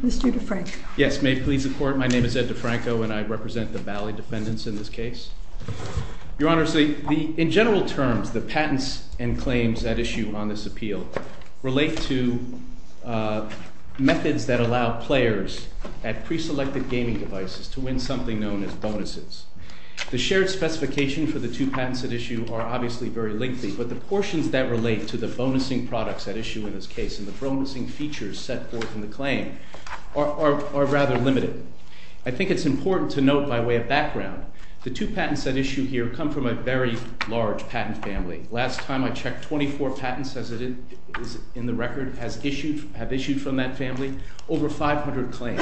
Mr. DeFranco. Yes, may it please the Court, my name is Ed DeFranco and I represent the Bally defendants in this case. Your Honor, in general terms, the patents and claims at issue in this case is to win something known as bonuses. The shared specification for the two patents at issue are obviously very lengthy, but the portions that relate to the bonusing products at issue in this case and the bonusing features set forth in the claim are rather limited. I think it's important to note by way of background, the two patents at issue here come from a very large patent family. Last time I checked, 24 patents in the record have issued from that family. Over 500 claims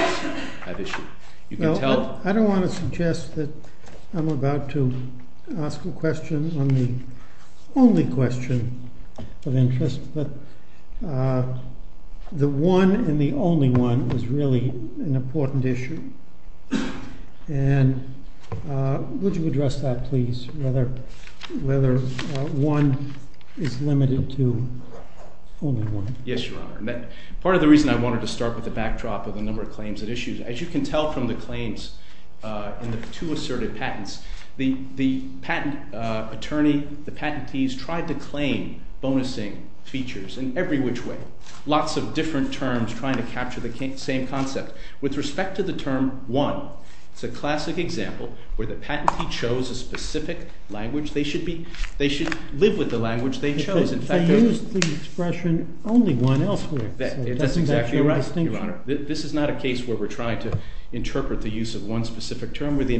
have issued. You can tell that. I don't want to suggest that I'm about to ask a question on the only question of interest, but the one and the only one is really an important issue and would you address that please, whether one is limited to only one. Yes, Your Honor. Part of the reason I wanted to start with the backdrop of the number of claims at issue, as you can tell from the claims in the two asserted patents, the patent attorney, the patentees tried to claim bonusing features in every which way. Lots of different terms trying to capture the same concept. With respect to the term one, it's a classic example where the patentee chose a specific language. They should live with the language they chose. They used the expression only one else. That's exactly right, Your Honor. This is not a case where we're trying to interpret the use of one specific term. Where the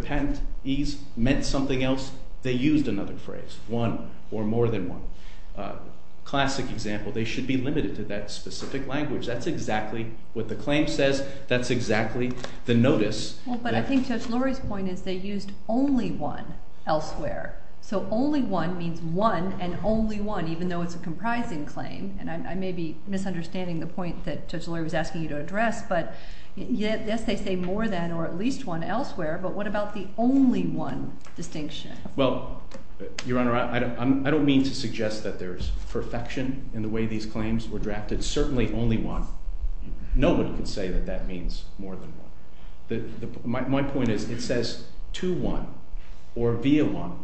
patentees meant something else, they used another phrase, one or more than one. Classic example, they should be limited to that specific language. That's exactly what the claim says. That's exactly the notice. But I think Judge Lurie's point is they used only one elsewhere. So only one means one and only one, even though it's a comprising claim. And I may be misunderstanding the point that Judge Lurie was asking you to address, but yes, they say more than or at least one elsewhere. But what about the only one distinction? Well, Your Honor, I don't mean to suggest that there's perfection in the way these terms are used. No one can say that that means more than one. My point is it says to one or via one,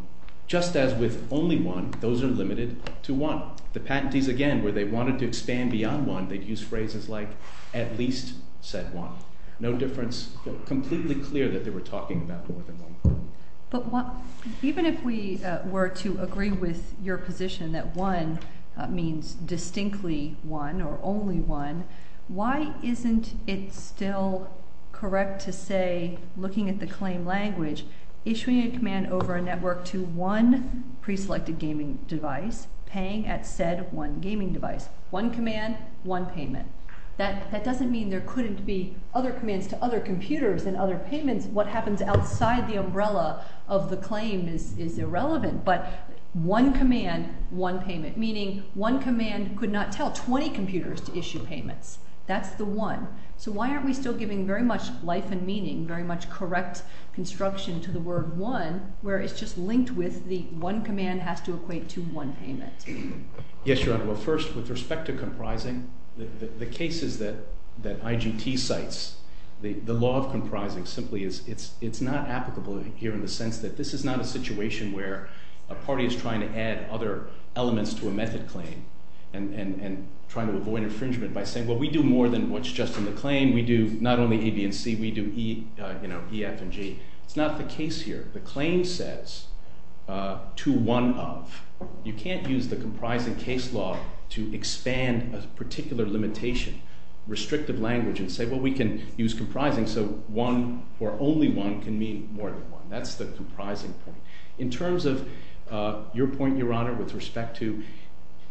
just as with only one, those are limited to one. The patentees, again, where they wanted to expand beyond one, they'd use phrases like at least said one. No difference, completely clear that they were talking about more than one. But even if we were to agree with your position that one means distinctly one or only one, why isn't it still correct to say, looking at the claim language, issuing a command over a network to one preselected gaming device, paying at said one gaming device? One command, one payment. That doesn't mean there couldn't be other commands to other computers and other payments. What happens outside the umbrella of the claim is irrelevant. But one command, one payment, meaning one command could not tell 20 computers to issue payments. That's the one. So why aren't we still giving very much life and meaning, very much correct construction to the word one, where it's just linked with the one command has to equate to one payment? Yes, Your Honor. Well, first, with respect to comprising, the cases that IGT cites, the law of comprising simply is it's not applicable here in the sense that this is not a situation where a party is trying to add other elements to a method claim and trying to avoid infringement by saying, well, we do more than what's just in the claim. We do not only A, B, and C. We do E, you know, E, F, and G. It's not the case here. The claim says to one of. You can't use the comprising case law to expand a particular limitation, restrictive language, and say, well, we can use comprising so one or only one can mean more than one. That's the comprising point. In terms of your point, Your Honor, with respect to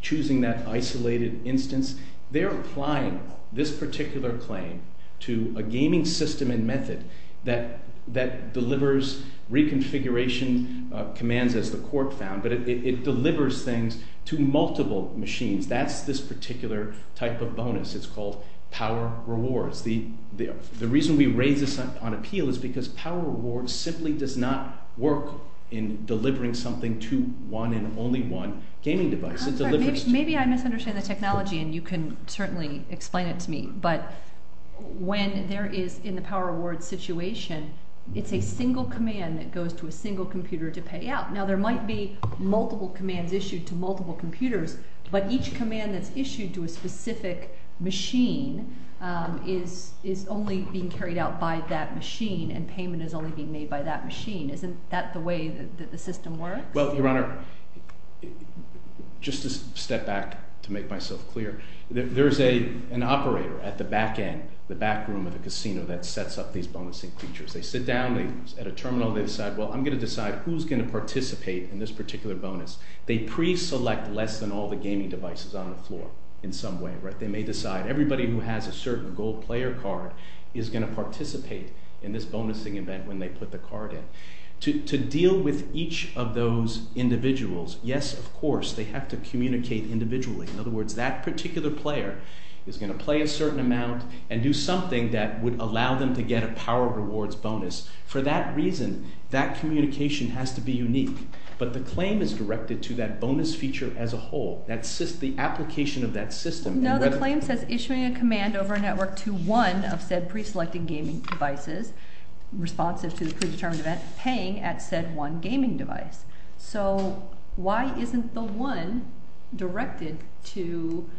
choosing that isolated instance, they're applying this particular claim to a gaming system and method that delivers reconfiguration commands as the court found, but it delivers things to multiple machines. That's this particular type of bonus. It's called power rewards. The reason we raise this on appeal is because power reward simply does not work in delivering something to one and only one gaming device. Maybe I misunderstood the technology, and you can certainly explain it to me, but when there is, in the power reward situation, it's a single command that goes to a single computer to pay out. Now, there might be multiple commands issued to multiple computers, but each payment is only being made by that machine. Isn't that the way that the system works? Well, Your Honor, just to step back to make myself clear, there's an operator at the back end, the back room of the casino that sets up these bonusing features. They sit down at a terminal. They decide, well, I'm going to decide who's going to participate in this particular bonus. They pre-select less than all the gaming devices on the floor in some way. They may decide everybody who has a certain gold player card is going to participate in this bonusing event when they put the card in. To deal with each of those individuals, yes, of course, they have to communicate individually. In other words, that particular player is going to play a certain amount and do something that would allow them to get a power rewards bonus. For that reason, that communication has to be unique, but the claim is directed to that bonus feature as a whole, the application of that system. No, the claim says issuing a command over a network to one of said pre-selecting gaming devices responsive to the predetermined event paying at said one gaming device. So why isn't the one directed to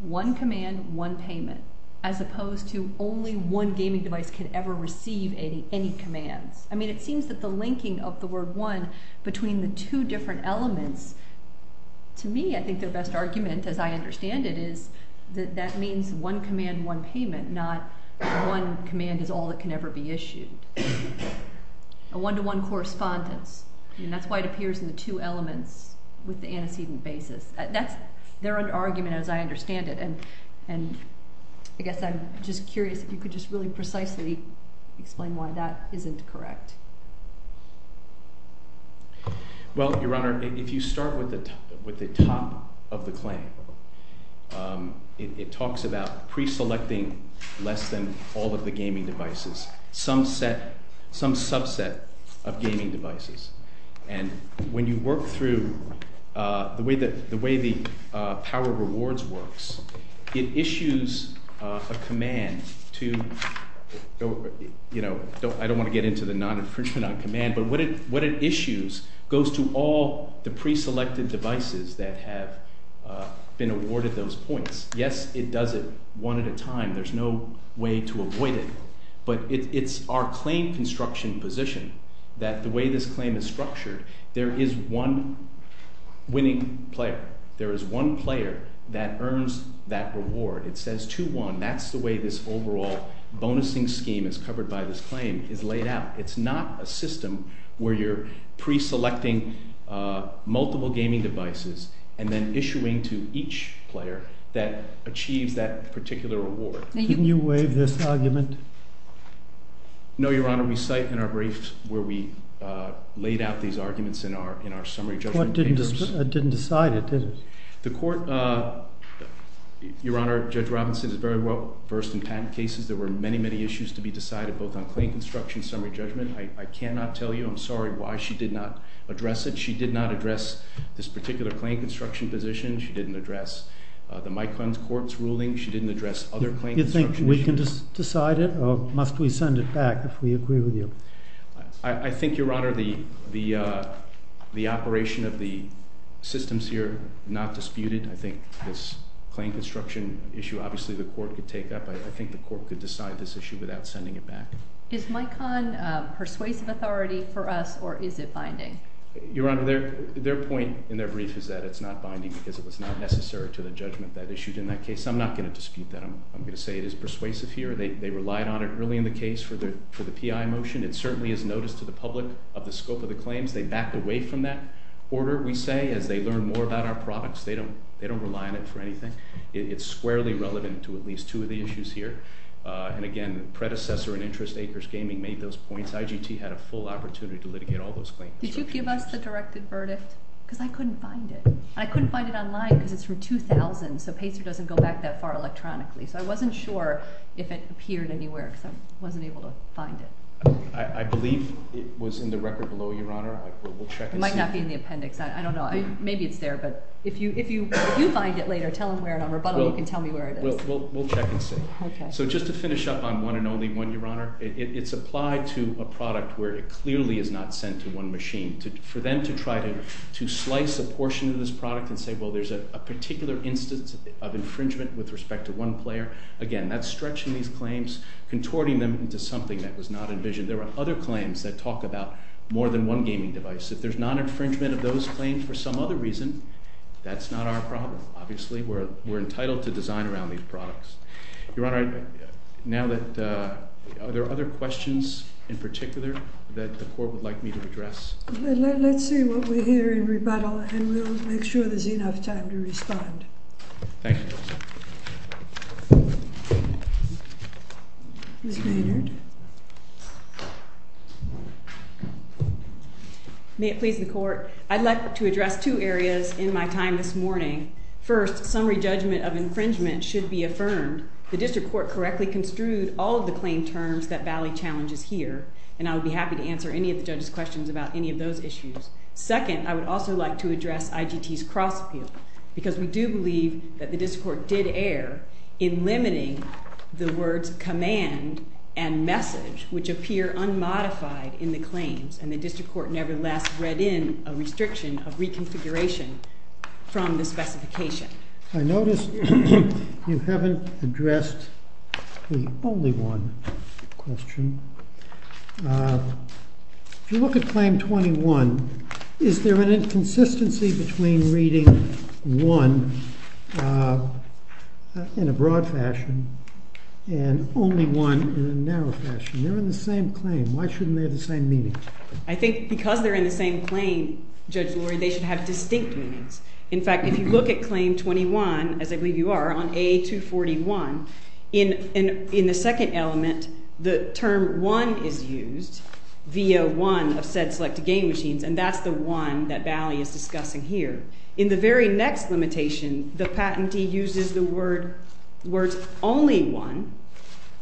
one command, one payment, as opposed to only one gaming device could ever receive any commands? I mean, it seems that the linking of the word one between the two elements, to me, I think their best argument, as I understand it, is that that means one command, one payment, not one command is all that can ever be issued. A one-to-one correspondence, and that's why it appears in the two elements with the antecedent basis. That's their argument, as I understand it, and I guess I'm just curious if you could just really precisely explain why that isn't correct. Well, Your Honor, if you start with the top of the claim, it talks about pre-selecting less than all of the gaming devices, some subset of gaming devices, and when you work through the way the Power Rewards works, it issues a command to, you know, I don't want to get into the non-infringement on command, but what it issues goes to all the pre-selected devices that have been awarded those points. Yes, it does it one at a time, there's no way to avoid it, but it's our claim construction position that the way this claim is structured, there is one winning player, there is one player that earns that reward. It says 2-1, that's the way this overall bonusing scheme is covered by this claim, is laid out. It's not a system where you're pre-selecting multiple gaming devices and then issuing to each player that achieves that particular reward. Can you waive this argument? No, Your Honor, we cite in our briefs where we laid out these arguments in our summary judgment papers. The court didn't decide it, did it? The court, Your Honor, Judge Robinson is very well versed in patent cases. There were many, many issues to be decided both on claim construction summary judgment. I cannot tell you, I'm sorry, why she did not address it. She did not address this particular claim construction position. She didn't address the Micon's court's ruling. She didn't address other claim construction issues. Do you think we can decide it or must we send it back if we agree with you? I think, Your Honor, the operation of the systems here not disputed. I think this claim construction issue obviously the court could take up. I think the court could decide this issue without sending it back. Is Micon persuasive authority for us or is it binding? Your Honor, their point in their brief is that it's not binding because it was not necessary to the judgment that issued in that case. I'm not going to dispute that. I'm going to say it is persuasive here. They relied on it early in the case for the PI motion. It certainly is noticed to the public of the scope of the claims. They backed away from that order, we say, as they learn more about our products. They don't rely on it for anything. It's squarely relevant to at least two of the issues here. And again, the predecessor in interest, Acres Gaming, made those Did you give us the directed verdict? Because I couldn't find it. I couldn't find it online because it's from 2000. So Pacer doesn't go back that far electronically. So I wasn't sure if it appeared anywhere because I wasn't able to find it. I believe it was in the record below, Your Honor. It might not be in the appendix. I don't know. Maybe it's there. But if you find it later, tell him where it is on rebuttal. You can tell me where it is. We'll check and see. So just to finish up on one and only one, Your Honor, it's applied to a product where it clearly is not sent to one machine. For them to try to slice a portion of this product and say, well, there's a particular instance of infringement with respect to one player, again, that's stretching these claims, contorting them into something that was not envisioned. There are other claims that talk about more than one gaming device. If there's non-infringement of those claims for some other reason, that's not our problem. Obviously, we're entitled to design around these products. Your Honor, are there other questions in particular that the Court would like me to address? Let's see what we hear in rebuttal, and we'll make sure there's enough time to respond. Thank you, Your Honor. Ms. Maynard. May it please the Court, I'd like to address two areas in my time this morning. First, summary judgment of infringement should be affirmed. The District Court correctly construed all of the claim terms that Valley challenges here, and I would be happy to answer any of the judge's questions about any of those issues. Second, I would also like to address IGT's cross-appeal, because we do believe that the District Court did err in limiting the words command and message, which appear unmodified in the claims, and the District Court never last read in a restriction of reconfiguration from the specification. I notice you haven't addressed the only one question. If you look at Claim 21, is there an inconsistency between reading one in a broad fashion and only one in a narrow fashion? They're in the same claim. Why shouldn't they have the same meaning? I think because they're in the same claim, Judge Lurie, they should have distinct meanings. In fact, if you look at Claim 21, as I believe you are, on A241, in the second element, the term one is used via one of said selected game machines, and that's the one that Valley is discussing here. In the very next limitation, the patentee uses the words only one,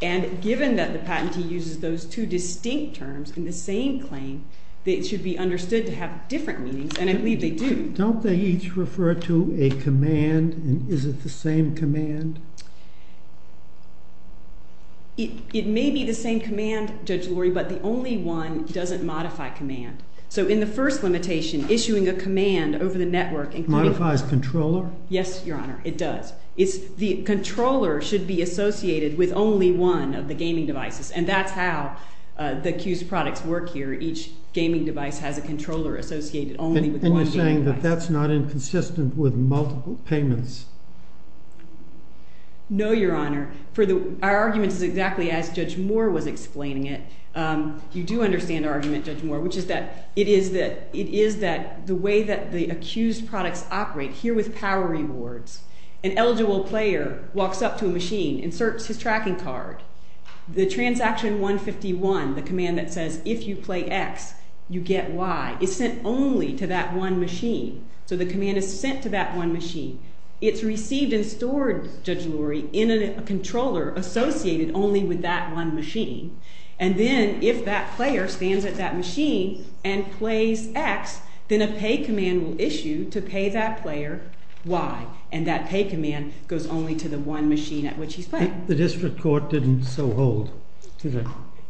and given that the patentee uses those two distinct terms in the same claim, they should be understood to have different meanings, and I believe they do. Don't they each refer to a command, and is it the same command? It may be the same command, Judge Lurie, but the only one doesn't modify command. So in the first limitation, issuing a command over the network, including- Modifies controller? Yes, Your Honor, it does. The controller should be associated with only one of the gaming devices, and that's how the Q's products work here. Each gaming device has a controller associated only with one gaming device. And you're saying that that's not inconsistent with multiple payments? No, Your Honor. Our argument is exactly as Judge Moore was explaining it. You do understand our argument, Judge Moore, which is that it is that the way that the accused products operate, here with power rewards, an eligible player walks up to a machine, inserts his tracking card, the transaction 151, the command that says, if you play X, you get Y, is sent only to that one machine. So the command is sent to that one machine. It's received and stored, Judge Lurie, in a controller associated only with that one machine, and then if that player stands at that machine and plays X, then a pay command will issue to pay that player Y, and that pay command goes only to the one machine at which he's playing. The district court didn't so hold?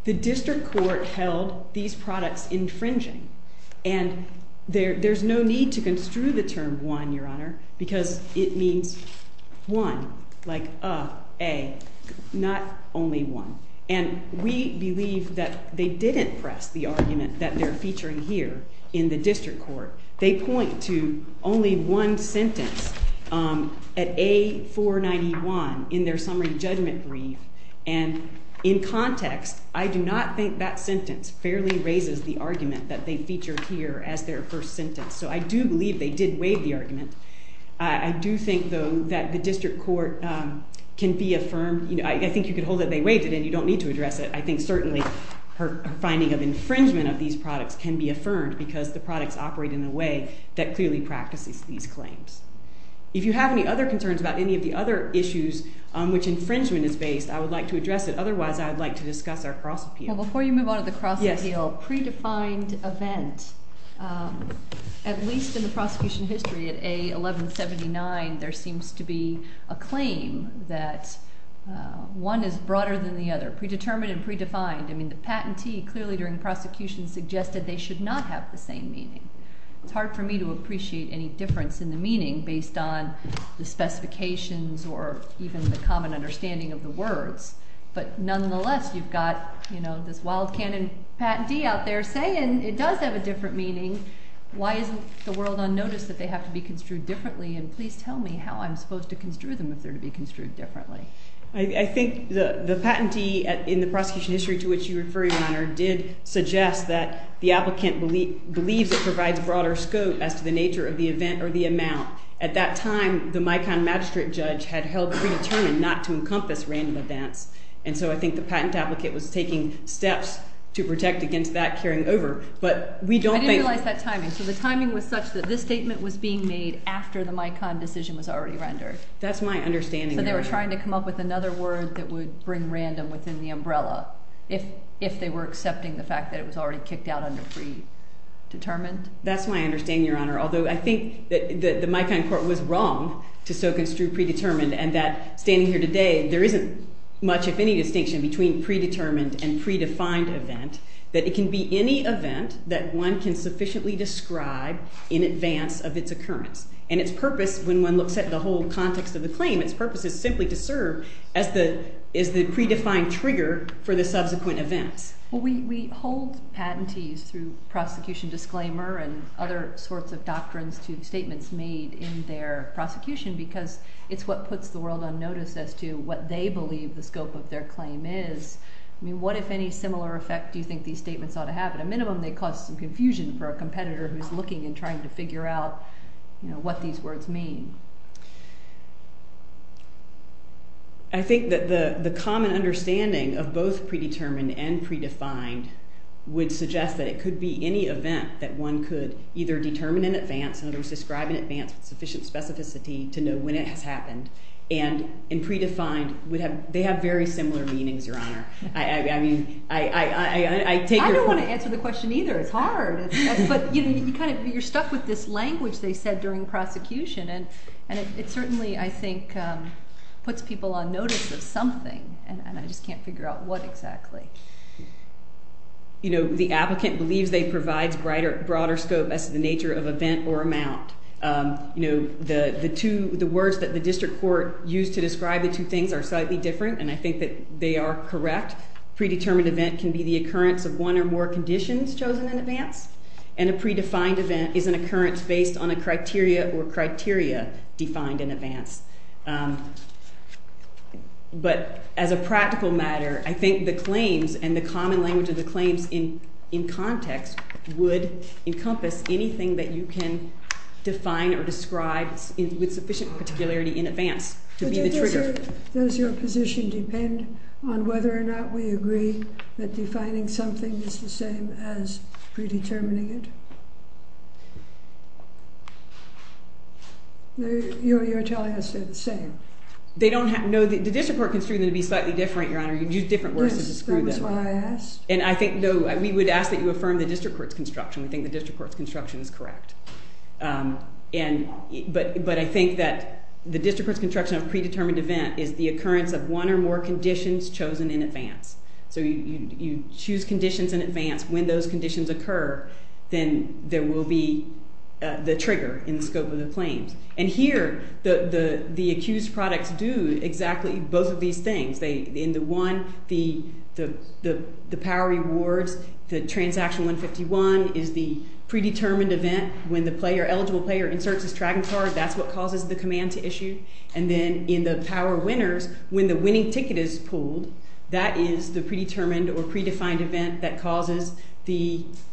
The district court held these products infringing, and there's no need to construe the term one, Your Honor, because it means one, like a, not only one. And we believe that they didn't press the argument that they're featuring here in the district court. They point to only one sentence at A491 in their summary judgment brief, and in context, I do not think that sentence fairly raises the argument that they feature here as their first sentence. So I do believe they did waive the argument. I do think, though, that the district court can be affirmed. I think you could hold that they waived it, and you don't need to address it. I think certainly her finding of infringement of these products can be affirmed because the products operate in a way that if you have any other concerns about any of the other issues on which infringement is based, I would like to address it. Otherwise, I'd like to discuss our cross-appeal. Well, before you move on to the cross-appeal, predefined event. At least in the prosecution history at A1179, there seems to be a claim that one is broader than the other, predetermined and predefined. I mean, the patentee clearly during prosecution suggested they should not have the meaning. It's hard for me to appreciate any difference in the meaning based on the specifications or even the common understanding of the words. But nonetheless, you've got, you know, this wild canon patentee out there saying it does have a different meaning. Why isn't the world on notice that they have to be construed differently? And please tell me how I'm supposed to construe them if they're to be construed differently. I think the patentee in the prosecution history to which you're referring, Your Honor, did suggest that the applicant believes it provides broader scope as to the nature of the event or the amount. At that time, the Micon magistrate judge had held predetermined not to encompass random events. And so I think the patent applicant was taking steps to protect against that carrying over. But we don't think... I didn't realize that timing. So the timing was such that this statement was being made after the Micon decision was already rendered. That's my understanding. So they were trying to come up with another word that would bring random within the if they were accepting the fact that it was already kicked out under predetermined? That's my understanding, Your Honor. Although I think that the Micon court was wrong to so construe predetermined and that standing here today there isn't much, if any, distinction between predetermined and predefined event. That it can be any event that one can sufficiently describe in advance of its occurrence. And its purpose, when one looks at the whole context of the claim, its purpose is simply to serve as the predefined trigger for the subsequent events. Well, we hold patentees through prosecution disclaimer and other sorts of doctrines to statements made in their prosecution because it's what puts the world on notice as to what they believe the scope of their claim is. I mean, what if any similar effect do you think these statements ought to have? At a minimum, they cause some confusion for a competitor who's looking and I think that the common understanding of both predetermined and predefined would suggest that it could be any event that one could either determine in advance, in other words, describe in advance with sufficient specificity to know when it has happened. And in predefined, they have very similar meanings, Your Honor. I mean, I take your point. I don't want to answer the question either. It's hard. But you're stuck with this language they said during prosecution. And it certainly, I think, puts people on notice of something and I just can't figure out what exactly. You know, the applicant believes they provide a broader scope as to the nature of event or amount. You know, the words that the district court used to describe the two things are slightly different and I think that they are correct. Predetermined event can be the occurrence of one or more conditions chosen in advance and a predefined event is an occurrence based on a criteria or criteria defined in advance. But as a practical matter, I think the claims and the common language of the claims in context would encompass anything that you can define or describe with sufficient particularity in advance to be the trigger. Does your position depend on whether or not we agree that defining something is the same as predetermining it? Your attorney has said the same. They don't have, no, the district court construed them to be slightly different, Your Honor. You'd use different words to describe them. Yes, that was what I asked. And I think, no, we would ask that you affirm the district court's construction. We think the district court's construction is correct. But I think that the district court's construction of a predetermined event is the occurrence of one or more conditions chosen in advance. So you choose conditions in advance. When those conditions occur, then there will be the trigger in the scope of the claims. And here, the accused products do exactly both of these things. In the one, the power rewards, the transaction 151 is the predetermined event. When the player, eligible player, inserts his tracking card, that's what causes the command to issue. And then in the power winners, when the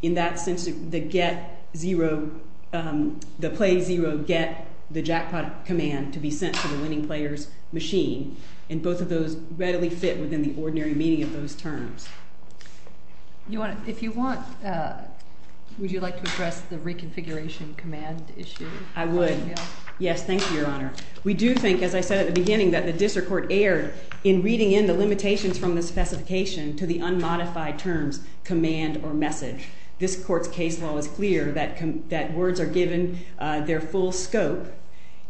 in that sense, the get zero, the play zero, get the jackpot command to be sent to the winning player's machine. And both of those readily fit within the ordinary meaning of those terms. If you want, would you like to address the reconfiguration command issue? I would. Yes, thank you, Your Honor. We do think, as I said at the beginning, that the district court erred in reading the limitations from the specification to the unmodified terms command or message. This court's case law is clear that words are given their full scope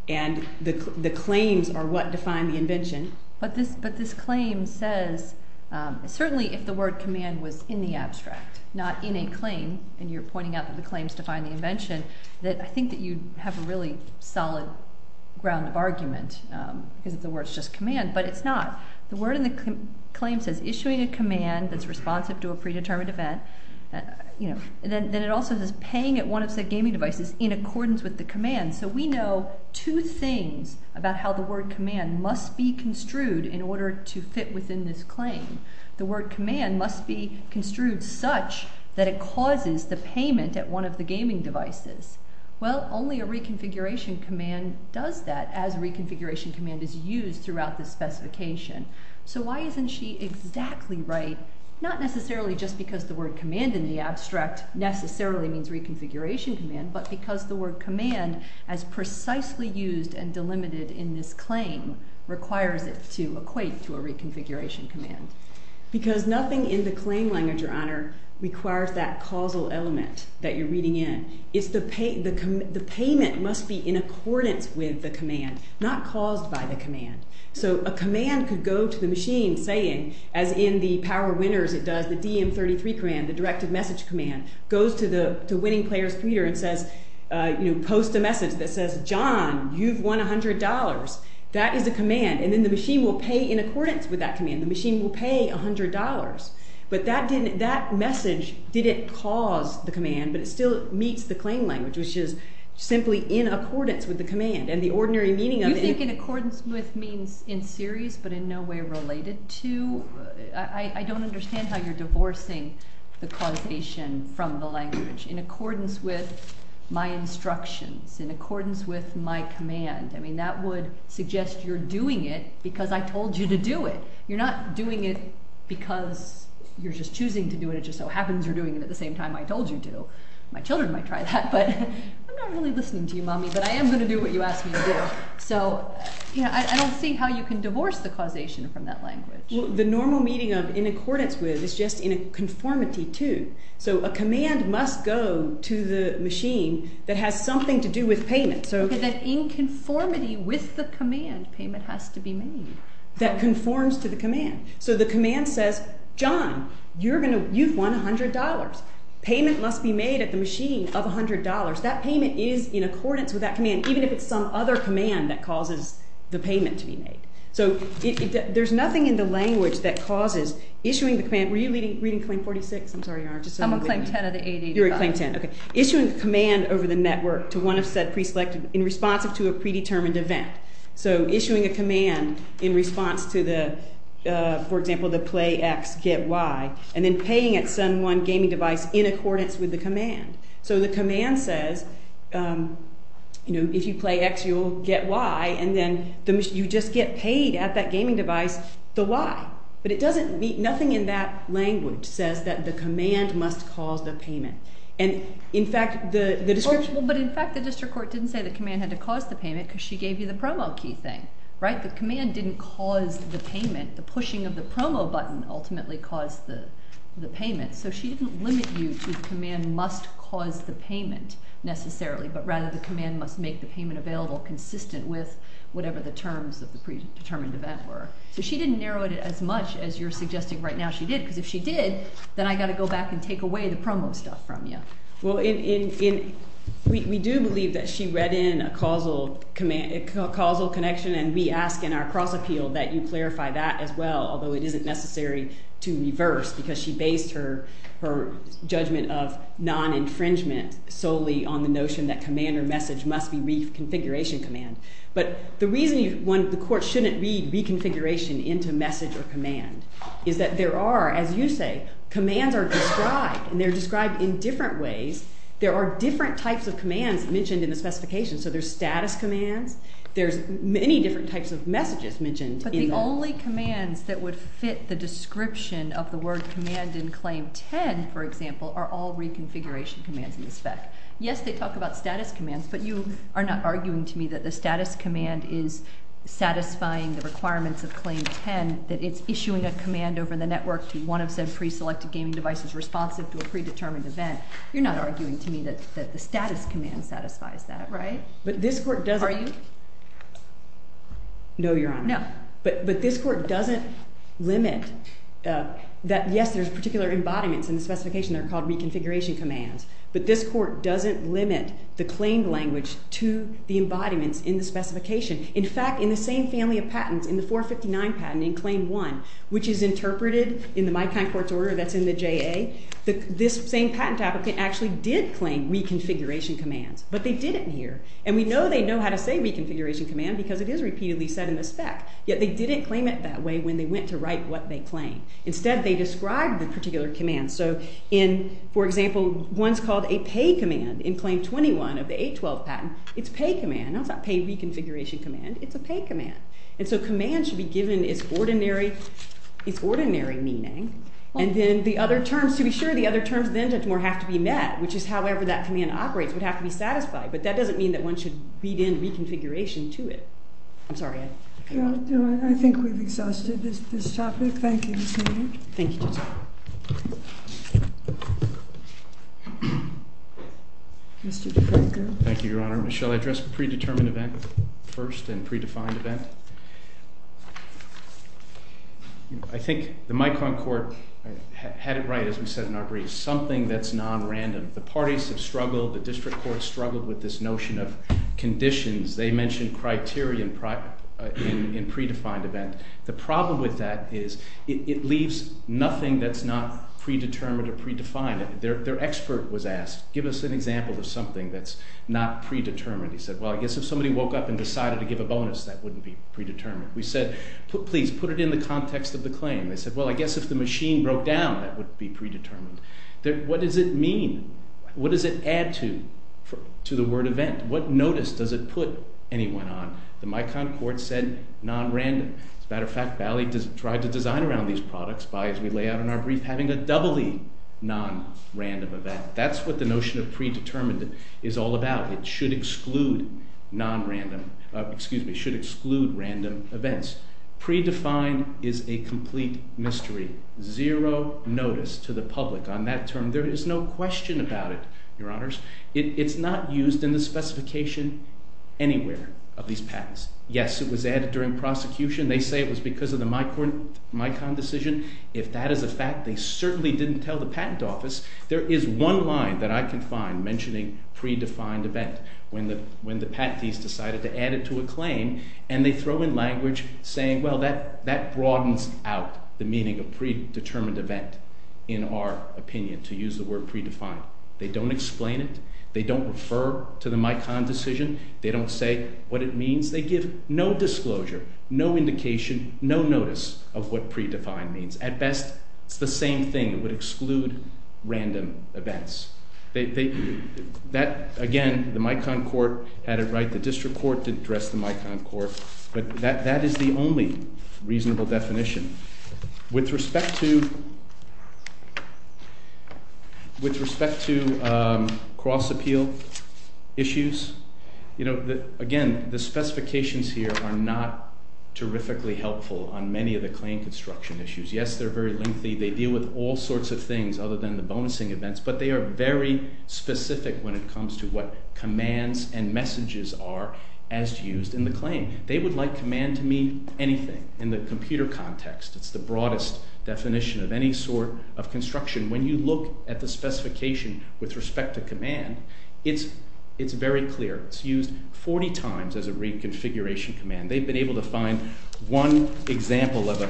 and the claims are what define the invention. But this claim says, certainly if the word command was in the abstract, not in a claim, and you're pointing out that the claims define the invention, that I think that you have a really claim says issuing a command that's responsive to a predetermined event, you know, and then it also says paying at one of said gaming devices in accordance with the command. So we know two things about how the word command must be construed in order to fit within this claim. The word command must be construed such that it causes the payment at one of the gaming devices. Well, only a reconfiguration command does that as a reconfiguration command is used throughout this specification. So why isn't she exactly right? Not necessarily just because the word command in the abstract necessarily means reconfiguration command, but because the word command, as precisely used and delimited in this claim, requires it to equate to a reconfiguration command. Because nothing in the claim language, Your Honor, requires that causal element that you're reading in. It's the payment must be in accordance with the command, not caused by the command. So a command could go to the machine saying, as in the power winners, it does the DM 33 command, the directive message command goes to the winning player's computer and says, you know, post a message that says, John, you've won $100. That is a command and then the machine will pay in accordance with that command, the machine will pay $100. But that didn't that message didn't cause the command, but it still meets the claim language, which is simply in accordance with means in series, but in no way related to, I don't understand how you're divorcing the causation from the language in accordance with my instructions in accordance with my command. I mean, that would suggest you're doing it because I told you to do it. You're not doing it, because you're just choosing to do it. It just so happens you're doing it at the same time I told you to, my children might try that. But I'm not really listening to you, so I don't see how you can divorce the causation from that language. The normal meeting of in accordance with is just in a conformity to, so a command must go to the machine that has something to do with payment. So that in conformity with the command, payment has to be made that conforms to the command. So the command says, John, you're going to you've won $100 payment must be made at the machine of $100. That payment is in accordance with that command, even if it's some other command that causes the payment to be made. So there's nothing in the language that causes issuing the command. Were you reading claim 46? I'm sorry. I'm on claim 10 of the ADA. You're on claim 10. Okay. Issuing the command over the network to one of said preselected in response to a predetermined event. So issuing a command in response to the, for example, the play X, get Y, and then paying at some one gaming device in accordance with the command. So the play X, you'll get Y, and then you just get paid at that gaming device, the Y, but it doesn't mean nothing in that language says that the command must cause the payment. And in fact, the description, but in fact, the district court didn't say the command had to cause the payment because she gave you the promo key thing, right? The command didn't cause the payment. The pushing of the promo button ultimately caused the payment. So she didn't limit you to the command must cause the payment necessarily, but rather the command must make the payment available consistent with whatever the terms of the predetermined event were. So she didn't narrow it as much as you're suggesting right now she did, because if she did, then I got to go back and take away the promo stuff from you. Well, we do believe that she read in a causal connection and we ask in our cross appeal that you clarify that as well, although it isn't necessary to reverse because she based her judgment of non-infringement solely on the notion that command or message must be reconfiguration command. But the reason the court shouldn't read reconfiguration into message or command is that there are, as you say, commands are described and they're described in different ways. There are different types of commands mentioned in the specification. So there's status commands, there's many different types of messages mentioned. But the only commands that would fit the description of the word command in Claim 10, for example, are all reconfiguration commands in the spec. Yes, they talk about status commands, but you are not arguing to me that the status command is satisfying the requirements of Claim 10, that it's issuing a command over the network to one of said pre-selected gaming devices responsive to a predetermined event. You're not arguing to me that the status command satisfies that, right? But this court doesn't... limit that, yes, there's particular embodiments in the specification that are called reconfiguration commands, but this court doesn't limit the claimed language to the embodiments in the specification. In fact, in the same family of patents, in the 459 patent in Claim 1, which is interpreted in the my kind court's order that's in the JA, this same patent applicant actually did claim reconfiguration commands, but they didn't here. And we know they know how to say reconfiguration command because it is repeatedly said in the spec, yet they didn't claim it that way when they went to write what they claim. Instead, they describe the particular command. So in, for example, one's called a pay command in Claim 21 of the 812 patent. It's pay command, not pay reconfiguration command, it's a pay command. And so command should be given its ordinary, its ordinary meaning, and then the other terms, to be sure, the other terms then don't more have to be met, which is however that command operates would have to be satisfied, but that doesn't mean that one should read in reconfiguration to it. I'm sorry. I think we've exhausted this topic. Thank you. Mr. DeFranco. Thank you, Your Honor. Shall I address the pre-determined event first and predefined event? I think the my kind court had it right, as we said in our brief, something that's non-random. The parties have struggled, the district courts struggled with this notion of in predefined event. The problem with that is it leaves nothing that's not predetermined or predefined. Their expert was asked, give us an example of something that's not predetermined. He said, well, I guess if somebody woke up and decided to give a bonus, that wouldn't be predetermined. We said, please put it in the context of the claim. They said, well, I guess if the machine broke down, that would be predetermined. What does it mean? What does it add to the word event? What notice does it put anyone on? The my kind court said non-random. As a matter of fact, Bally tried to design around these products by, as we lay out in our brief, having a doubly non-random event. That's what the notion of predetermined is all about. It should exclude non-random, excuse me, should exclude random events. Predefined is a complete mystery. Zero notice to the public on that term. There is no question about it, your honors. It's not used in the specification anywhere of these patents. Yes, it was added during prosecution. They say it was because of the my kind decision. If that is a fact, they certainly didn't tell the patent office. There is one line that I can find mentioning predefined event when the patentees decided to add it to a claim and they throw in language saying, well, that broadens out the meaning of predetermined event in our opinion to use the word predefined. They don't explain it. They don't refer to the my kind decision. They don't say what it means. They give no disclosure, no indication, no notice of what predefined means. At best, it's the same thing. It would exclude random events. Again, the my kind court had it the district court didn't address the my kind court, but that is the only reasonable definition. With respect to cross appeal issues, again, the specifications here are not terrifically helpful on many of the claim construction issues. Yes, they're very lengthy. They deal with all sorts of things other than the bonusing events, but they are very specific when it comes to what commands and messages are as used in the claim. They would like command to mean anything in the computer context. It's the broadest definition of any sort of construction. When you look at the specification with respect to command, it's very clear. It's used 40 times as a reconfiguration command. They've been able to find one example of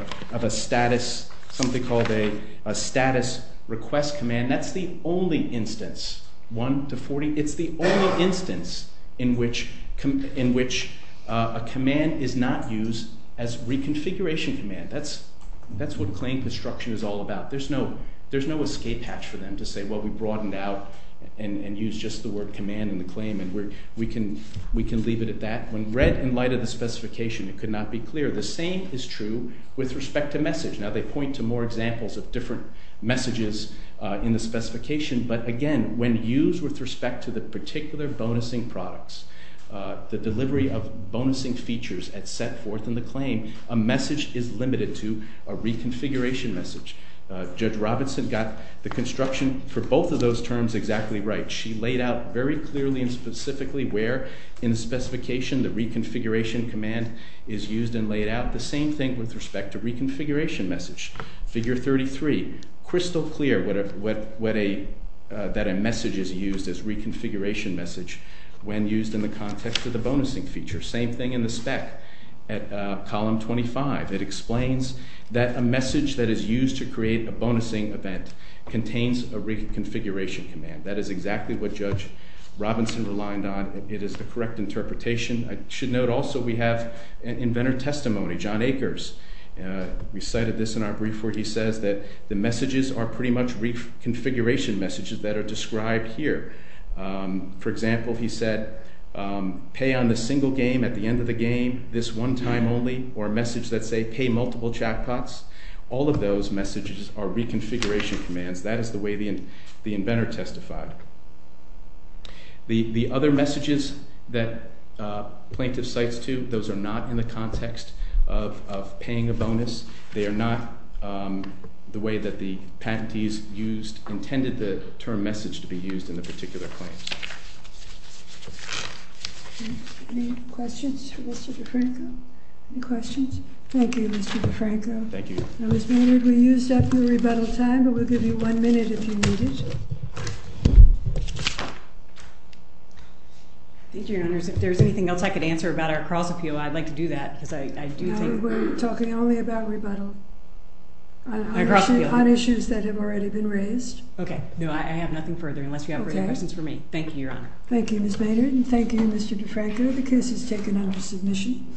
a status, something called a reconfiguration command. It's the only instance, one to 40, it's the only instance in which a command is not used as reconfiguration command. That's what claim construction is all about. There's no escape hatch for them to say, well, we broadened out and used just the word command in the claim and we can leave it at that. When read in light of the specification, it could not be clear. The same is true with respect to message. Now, they point to more examples of different messages in the specification, but again, when used with respect to the particular bonusing products, the delivery of bonusing features at set forth in the claim, a message is limited to a reconfiguration message. Judge Robinson got the construction for both of those terms exactly right. She laid out very clearly and specifically where in the specification the reconfiguration command is used and laid out. The same thing with respect to reconfiguration message. Figure 33, crystal clear that a message is used as reconfiguration message when used in the context of the bonusing feature. Same thing in the spec at column 25. It explains that a message that is used to create a bonusing event contains a reconfiguration command. That is exactly what Judge Robinson relied on. It is the correct interpretation. I should note also we have inventor testimony, John Akers. We cited this in our brief where he says that the messages are pretty much reconfiguration messages that are described here. For example, he said, pay on the single game at the end of the game, this one time only, or a message that say pay multiple jackpots. All of those messages are reconfiguration commands. That is the way the context of paying a bonus. They are not the way that the patentees used, intended the term message to be used in the particular claims. Any questions for Mr. DeFranco? Any questions? Thank you, Mr. DeFranco. Thank you. I was wondering if we used up your rebuttal time, but we'll give you one minute if you need it. Thank you, Your Honors. If there's anything else I could answer about our cross appeal, I'd like to do that because I do think... No, we're talking only about rebuttal on issues that have already been raised. Okay. No, I have nothing further, unless you have further questions for me. Thank you, Your Honor. Thank you, Ms. Maynard, and thank you, Mr. DeFranco. The case is taken under submission.